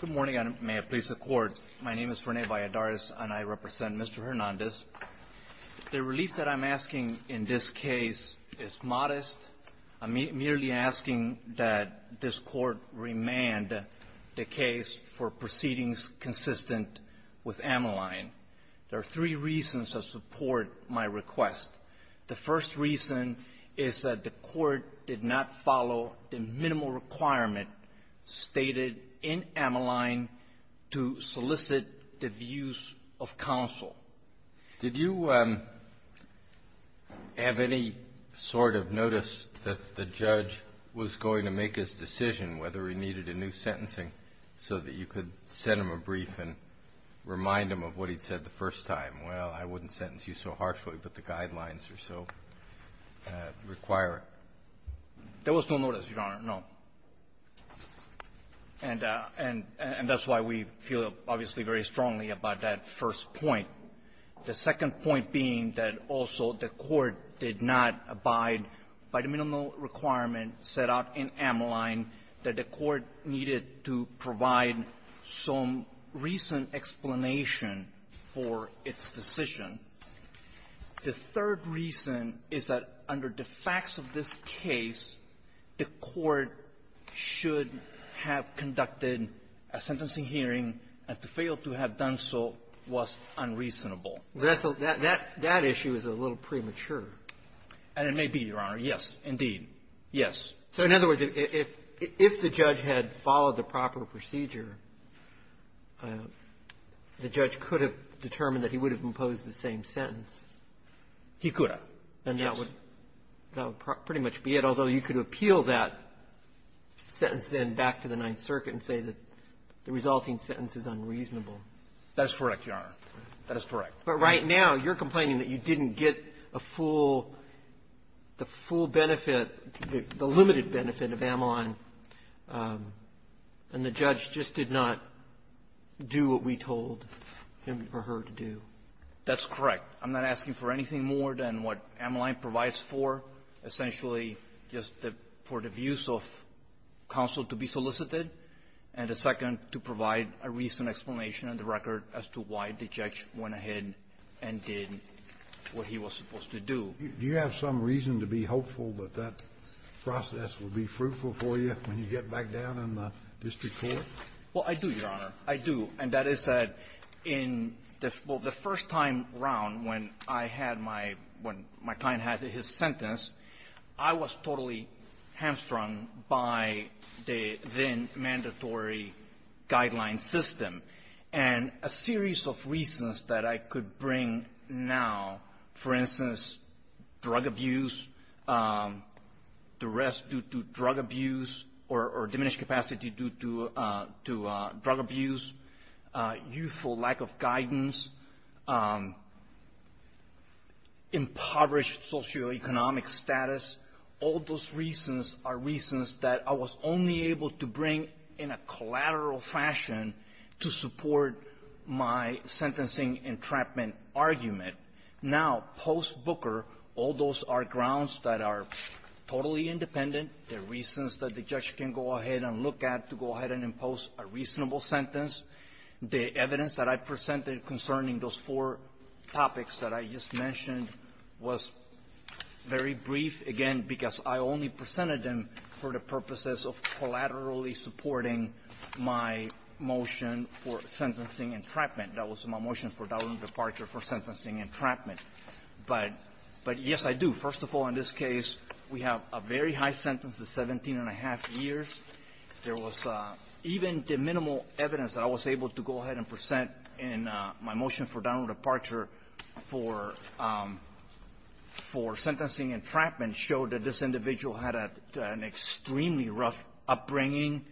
Good morning, and may it please the Court. My name is Rene Valladares, and I represent Mr. Hernandez. The relief that I'm asking in this case is modest. I'm merely asking that this Court remand the case for proceedings consistent with Ameline. There are three reasons to support my request. The first reason is that the Court did not follow the minimal requirement stated in Ameline to solicit the views of counsel. Did you have any sort of notice that the judge was going to make his decision whether he needed a new sentencing so that you could send him a brief and remind him of what he'd said the first time? Well, I wouldn't sentence you so harshly, but the guidelines are so requiring. There was no notice, Your Honor, no. And that's why we feel, obviously, very strongly about that first point. The second point being that also the Court did not abide by the minimal requirement set out in Ameline that the Court needed to provide some recent explanation for its decision. The third reason is that under the facts of this case, the Court should have conducted a sentencing hearing, and to fail to have done so was unreasonable. That issue is a little premature. And it may be, Your Honor. Yes, indeed. Yes. So, in other words, if the judge had followed the proper procedure, the judge could have determined that he would have imposed the same sentence. He could have, yes. And that would pretty much be it, although you could appeal that sentence then back to the Ninth Circuit and say that the resulting sentence is unreasonable. That's correct, Your Honor. That is correct. But right now, you're complaining that you didn't get a full the full benefit, the limited benefit of Ameline, and the judge just did not do what we told him or her to do. That's correct. I'm not asking for anything more than what Ameline provides for, essentially just for the views of counsel to be solicited, and a second to provide a recent explanation in the record as to why the judge went ahead and did what he was supposed to do. Do you have some reason to be hopeful that that process will be fruitful for you when you get back down in the district court? Well, I do, Your Honor. I do. And that is that in the first time around when I had my — when my client had his sentence, I was totally hamstrung by the then-mandatory guideline system. And a series of reasons that I could bring now, for instance, drug abuse, duress due to drug abuse or diminished capacity due to drug abuse, youthful lack of guidance, impoverished socioeconomic status, all those reasons are reasons that I was only able to support my sentencing entrapment argument. Now, post-Booker, all those are grounds that are totally independent. They're reasons that the judge can go ahead and look at to go ahead and impose a reasonable sentence. The evidence that I presented concerning those four topics that I just mentioned was very brief, again, because I only presented them for the purposes of collaterally supporting my motion for sentencing entrapment. That was my motion for downward departure for sentencing entrapment. But — but, yes, I do. First of all, in this case, we have a very high sentence of 17-1⁄2 years. There was even the minimal evidence that I was able to go ahead and present in my motion for downward departure for — for sentencing entrapment showed that this individual had an extremely rough upbringing,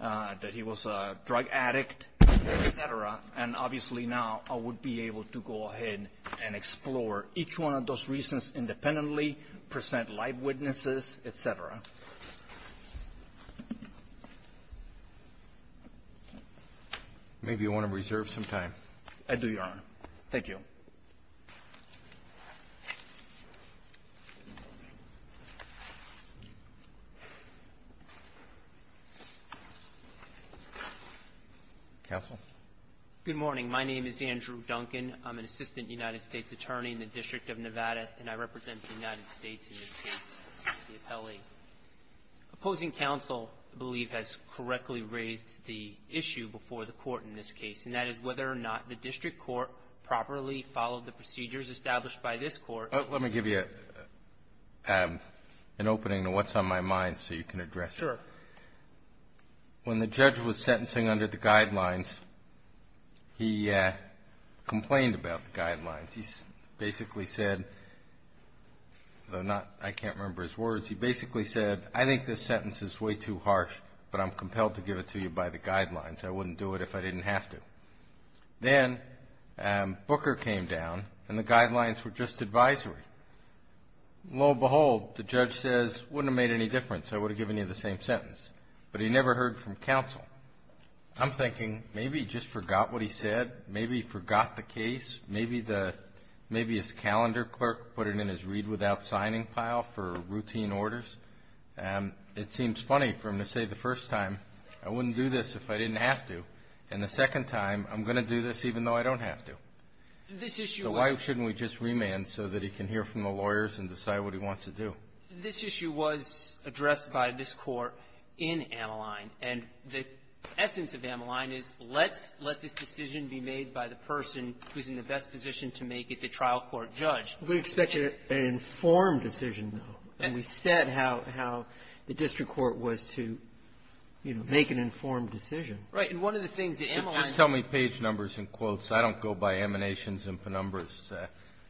that he was a drug addict, et cetera. And, obviously, now I would be able to go ahead and explore each one of those reasons independently, present live witnesses, et cetera. Maybe you want to reserve some time. I do, Your Honor. Thank you. Roberts. Counsel. Good morning. My name is Andrew Duncan. I'm an assistant United States attorney in the District of Nevada, and I represent the United States in this case, the appellee. Opposing counsel, I believe, has correctly raised the issue before the Court in this case, and that is whether or not the district court properly followed the procedures established by this Court. Let me give you an opening to what's on my mind so you can address it. Sure. When the judge was sentencing under the guidelines, he complained about the guidelines. He basically said, though I can't remember his words, he basically said, I think this sentence is way too harsh, but I'm compelled to give it to you by the guidelines. I wouldn't do it if I didn't have to. Then, Booker came down, and the guidelines were just advisory. Lo and behold, the judge says, wouldn't have made any difference. I would have given you the same sentence. But he never heard from counsel. I'm thinking, maybe he just forgot what he said. Maybe he forgot the case. Maybe his calendar clerk put it in his read-without-signing pile for routine orders. It seems funny for him to say the first time, I wouldn't do this if I didn't have to. And the second time, I'm going to do this even though I don't have to. This issue was — So why shouldn't we just remand so that he can hear from the lawyers and decide what he wants to do? This issue was addressed by this Court in Ameline. And the essence of Ameline is, let's let this decision be made by the person who's in the best position to make it the trial court judge. We expected an informed decision, though. And we said how the district court was to, you know, make an informed decision. Right. And one of the things that Ameline — Just tell me page numbers and quotes. I don't go by emanations and penumbras.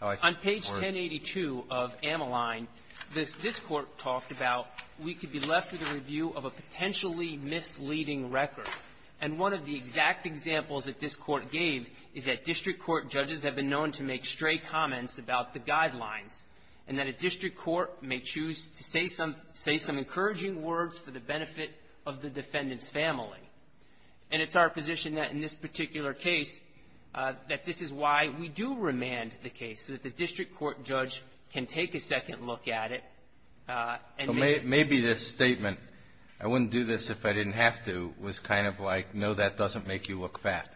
On page 1082 of Ameline, this Court talked about we could be left with a review of a potentially misleading record. And one of the exact examples that this Court gave is that district court judges have been known to make stray comments about the guidelines, and that a district court may choose to say some encouraging words for the benefit of the defendant's family. And it's our position that in this particular case that this is why we do remand the case, so that the district court judge can take a second look at it and make it. So maybe this statement, I wouldn't do this if I didn't have to, was kind of like, no, that doesn't make you look fat.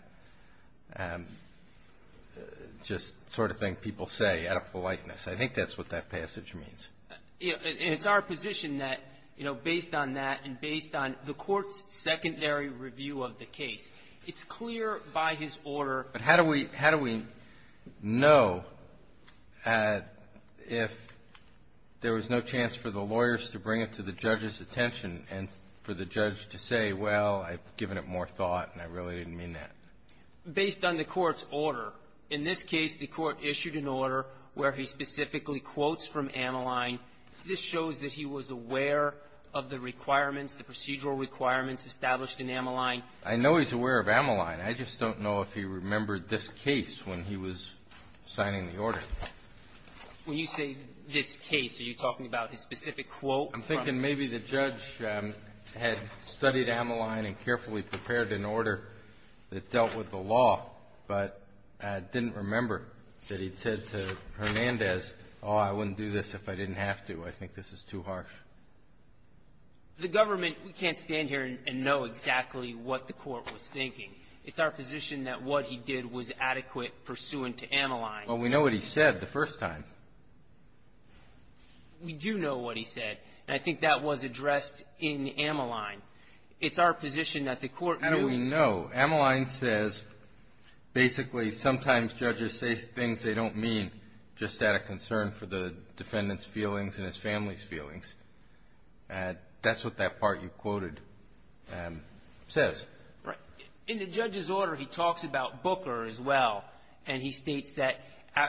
Just sort of thing people say out of politeness. I think that's what that passage means. And it's our position that, you know, based on that and based on the Court's secondary review of the case, it's clear by his order — But how do we know if there was no chance for the lawyers to bring it to the judge's attention and for the judge to say, well, I've given it more thought and I really didn't mean that? Based on the Court's order. In this case, the Court issued an order where he specifically quotes from Ameline. This shows that he was aware of the requirements, the procedural requirements established in Ameline. I know he's aware of Ameline. I just don't know if he remembered this case when he was signing the order. When you say this case, are you talking about his specific quote? I'm thinking maybe the judge had studied Ameline and carefully prepared an order that dealt with the law. But didn't remember that he'd said to Hernandez, oh, I wouldn't do this if I didn't have to. I think this is too harsh. The government, we can't stand here and know exactly what the Court was thinking. It's our position that what he did was adequate pursuant to Ameline. Well, we know what he said the first time. We do know what he said. And I think that was addressed in Ameline. It's our position that the Court knew — How do we know? Ameline says basically sometimes judges say things they don't mean just out of concern for the defendant's feelings and his family's feelings. That's what that part you quoted says. Right. In the judge's order, he talks about Booker as well. And he states that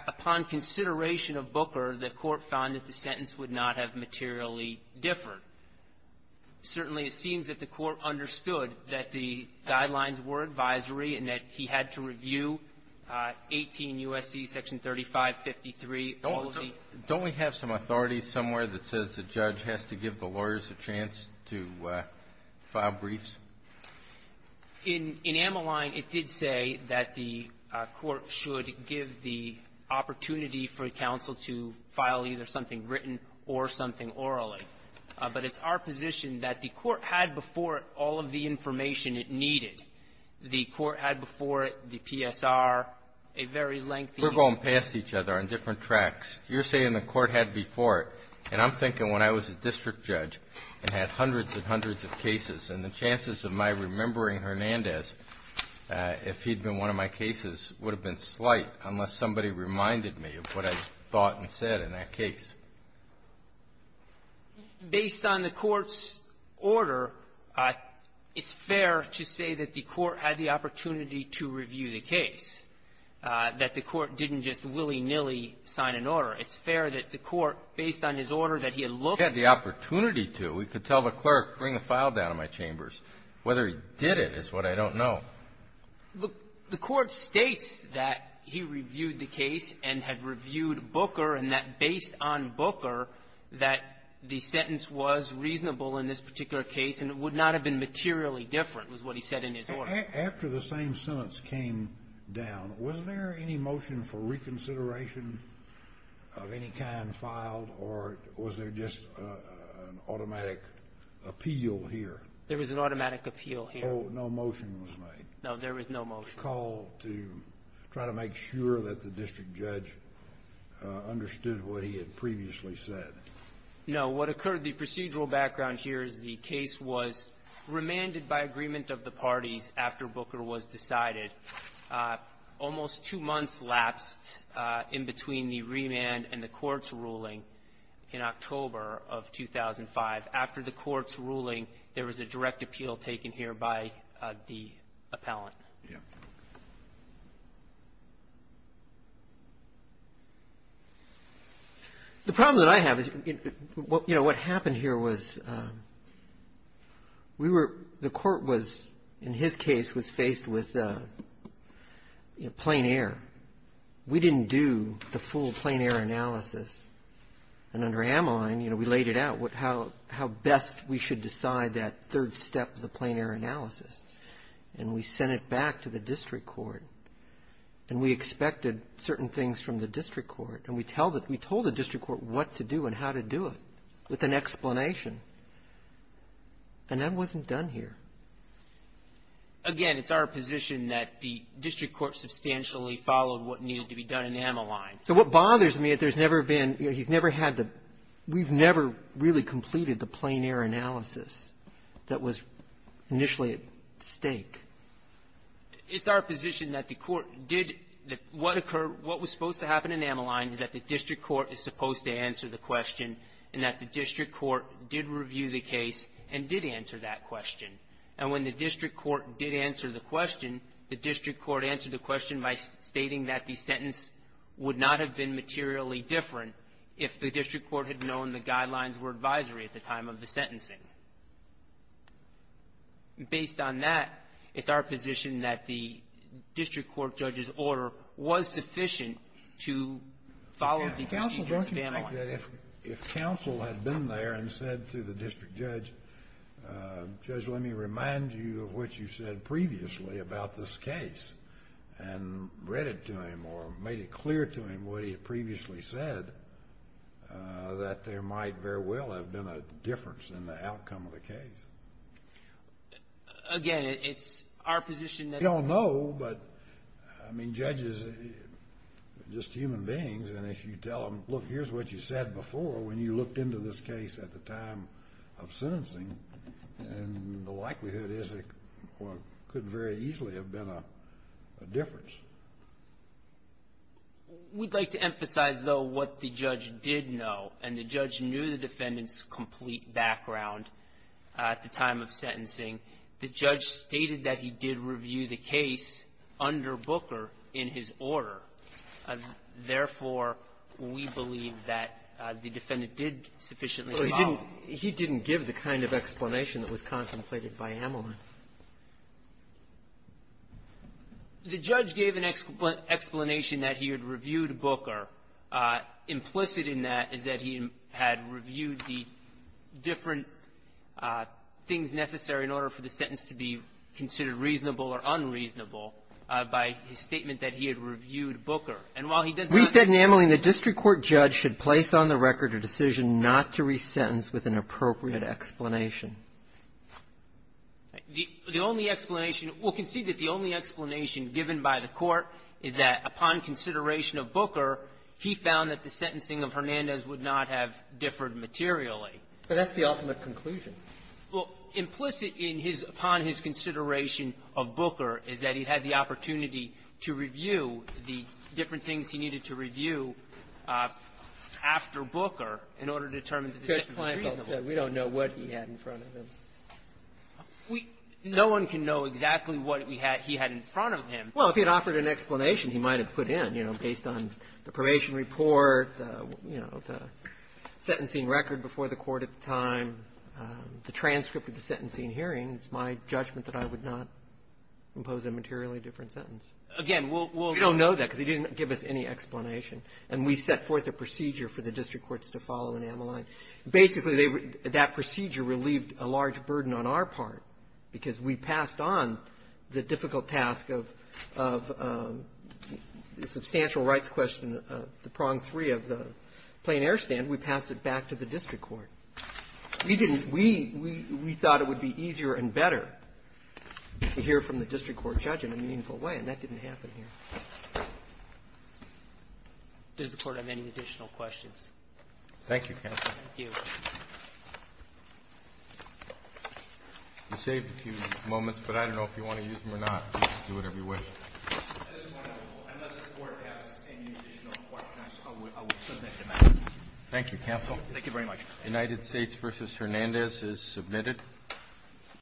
upon consideration of Booker, the Court found that the sentence would not have materially differed. Certainly, it seems that the Court understood that the guidelines were advisory and that he had to review 18 U.S.C. section 3553. Don't we have some authority somewhere that says the judge has to give the lawyers a chance to file briefs? In Ameline, it did say that the Court should give the opportunity for counsel to file either something written or something orally. But it's our position that the Court had before it all of the information it needed. The Court had before it the PSR, a very lengthy — We're going past each other on different tracks. You're saying the Court had before it. And I'm thinking when I was a district judge and had hundreds and hundreds of cases, and the chances of my remembering Hernandez, if he'd been one of my cases, would have been slight unless somebody reminded me of what I thought and said in that case. Based on the Court's order, it's fair to say that the Court had the opportunity to review the case, that the Court didn't just willy-nilly sign an order. It's fair that the Court, based on his order that he had looked at the opportunity to. We could tell the clerk, bring a file down to my chambers. Whether he did it is what I don't know. Look, the Court states that he reviewed the case and had reviewed Booker, and that based on Booker, that the sentence was reasonable in this particular case, and it would not have been materially different was what he said in his order. After the same sentence came down, was there any motion for reconsideration of any kind filed, or was there just an automatic appeal here? There was an automatic appeal here. No motion was made. No, there was no motion. Was there a call to try to make sure that the district judge understood what he had previously said? No. What occurred, the procedural background here is the case was remanded by agreement of the parties after Booker was decided. Almost two months lapsed in between the remand and the Court's ruling in October of 2005. After the Court's ruling, there was a direct appeal taken here by the appellant. The problem that I have is, you know, what happened here was we were the Court was, in his case, was faced with plain air. We didn't do the full plain air analysis, and under Ameline, you know, we laid it out how best we should decide that third step of the plain air analysis, and we sent it back to the district court, and we expected certain things from the district court, and we told the district court what to do and how to do it with an explanation, and that wasn't done here. Again, it's our position that the district court substantially followed what needed to be done in Ameline. So what bothers me, there's never been, you know, he's never had the, we've never really completed the plain air analysis that was initially at stake. It's our position that the Court did what occurred, what was supposed to happen in Ameline, is that the district court is supposed to answer the question, and that the district court did review the case and did answer that question. And when the district court did answer the question, the district court answered the question by stating that the sentence would not have been materially different if the district court had known the guidelines were advisory at the time of the sentencing. Based on that, it's our position that the district court judge's order was sufficient to follow the procedures of Ameline. Okay. Counsel, don't you think that if counsel had been there and said to the district judge, Judge, let me remind you of what you said previously about this case and read to him or made it clear to him what he had previously said, that there might very well have been a difference in the outcome of the case? Again, it's our position that... We don't know, but, I mean, judges are just human beings, and if you tell them, look, here's what you said before when you looked into this case at the time of the sentencing, we'd like to emphasize, though, what the judge did know. And the judge knew the defendant's complete background at the time of sentencing. The judge stated that he did review the case under Booker in his order. Therefore, we believe that the defendant did sufficiently follow. Well, he didn't give the kind of explanation that was contemplated by Ameline. The judge gave an explanation that he had reviewed Booker. Implicit in that is that he had reviewed the different things necessary in order for the sentence to be considered reasonable or unreasonable by his statement that he had reviewed Booker. And while he does not... We said in Ameline the district court judge should place on the record a decision not to resentence with an appropriate explanation. The only explanation we'll concede that the only explanation given by the Court is that upon consideration of Booker, he found that the sentencing of Hernandez would not have differed materially. But that's the ultimate conclusion. Well, implicit in his upon his consideration of Booker is that he had the opportunity to review the different things he needed to review after Booker in order to determine the sentence reasonable. We don't know what he had in front of him. We no one can know exactly what we had he had in front of him. Well, if he had offered an explanation, he might have put in, you know, based on the probation report, you know, the sentencing record before the court at the time, the transcript of the sentencing hearing. It's my judgment that I would not impose a materially different sentence. Again, we'll... We don't know that because he didn't give us any explanation. And we set forth a procedure for the district courts to follow in Ameline. Basically, they were — that procedure relieved a large burden on our part, because we passed on the difficult task of the substantial rights question, the prong three of the plain air stand. We passed it back to the district court. We didn't — we thought it would be easier and better to hear from the district court judge in a meaningful way, and that didn't happen here. Does the Court have any additional questions? Thank you, Counsel. Thank you. You saved a few moments, but I don't know if you want to use them or not. You can do whatever you wish. I just want to know, unless the Court has any additional questions, I will submit them after. Thank you, Counsel. Thank you very much. The United States v. Hernandez is submitted.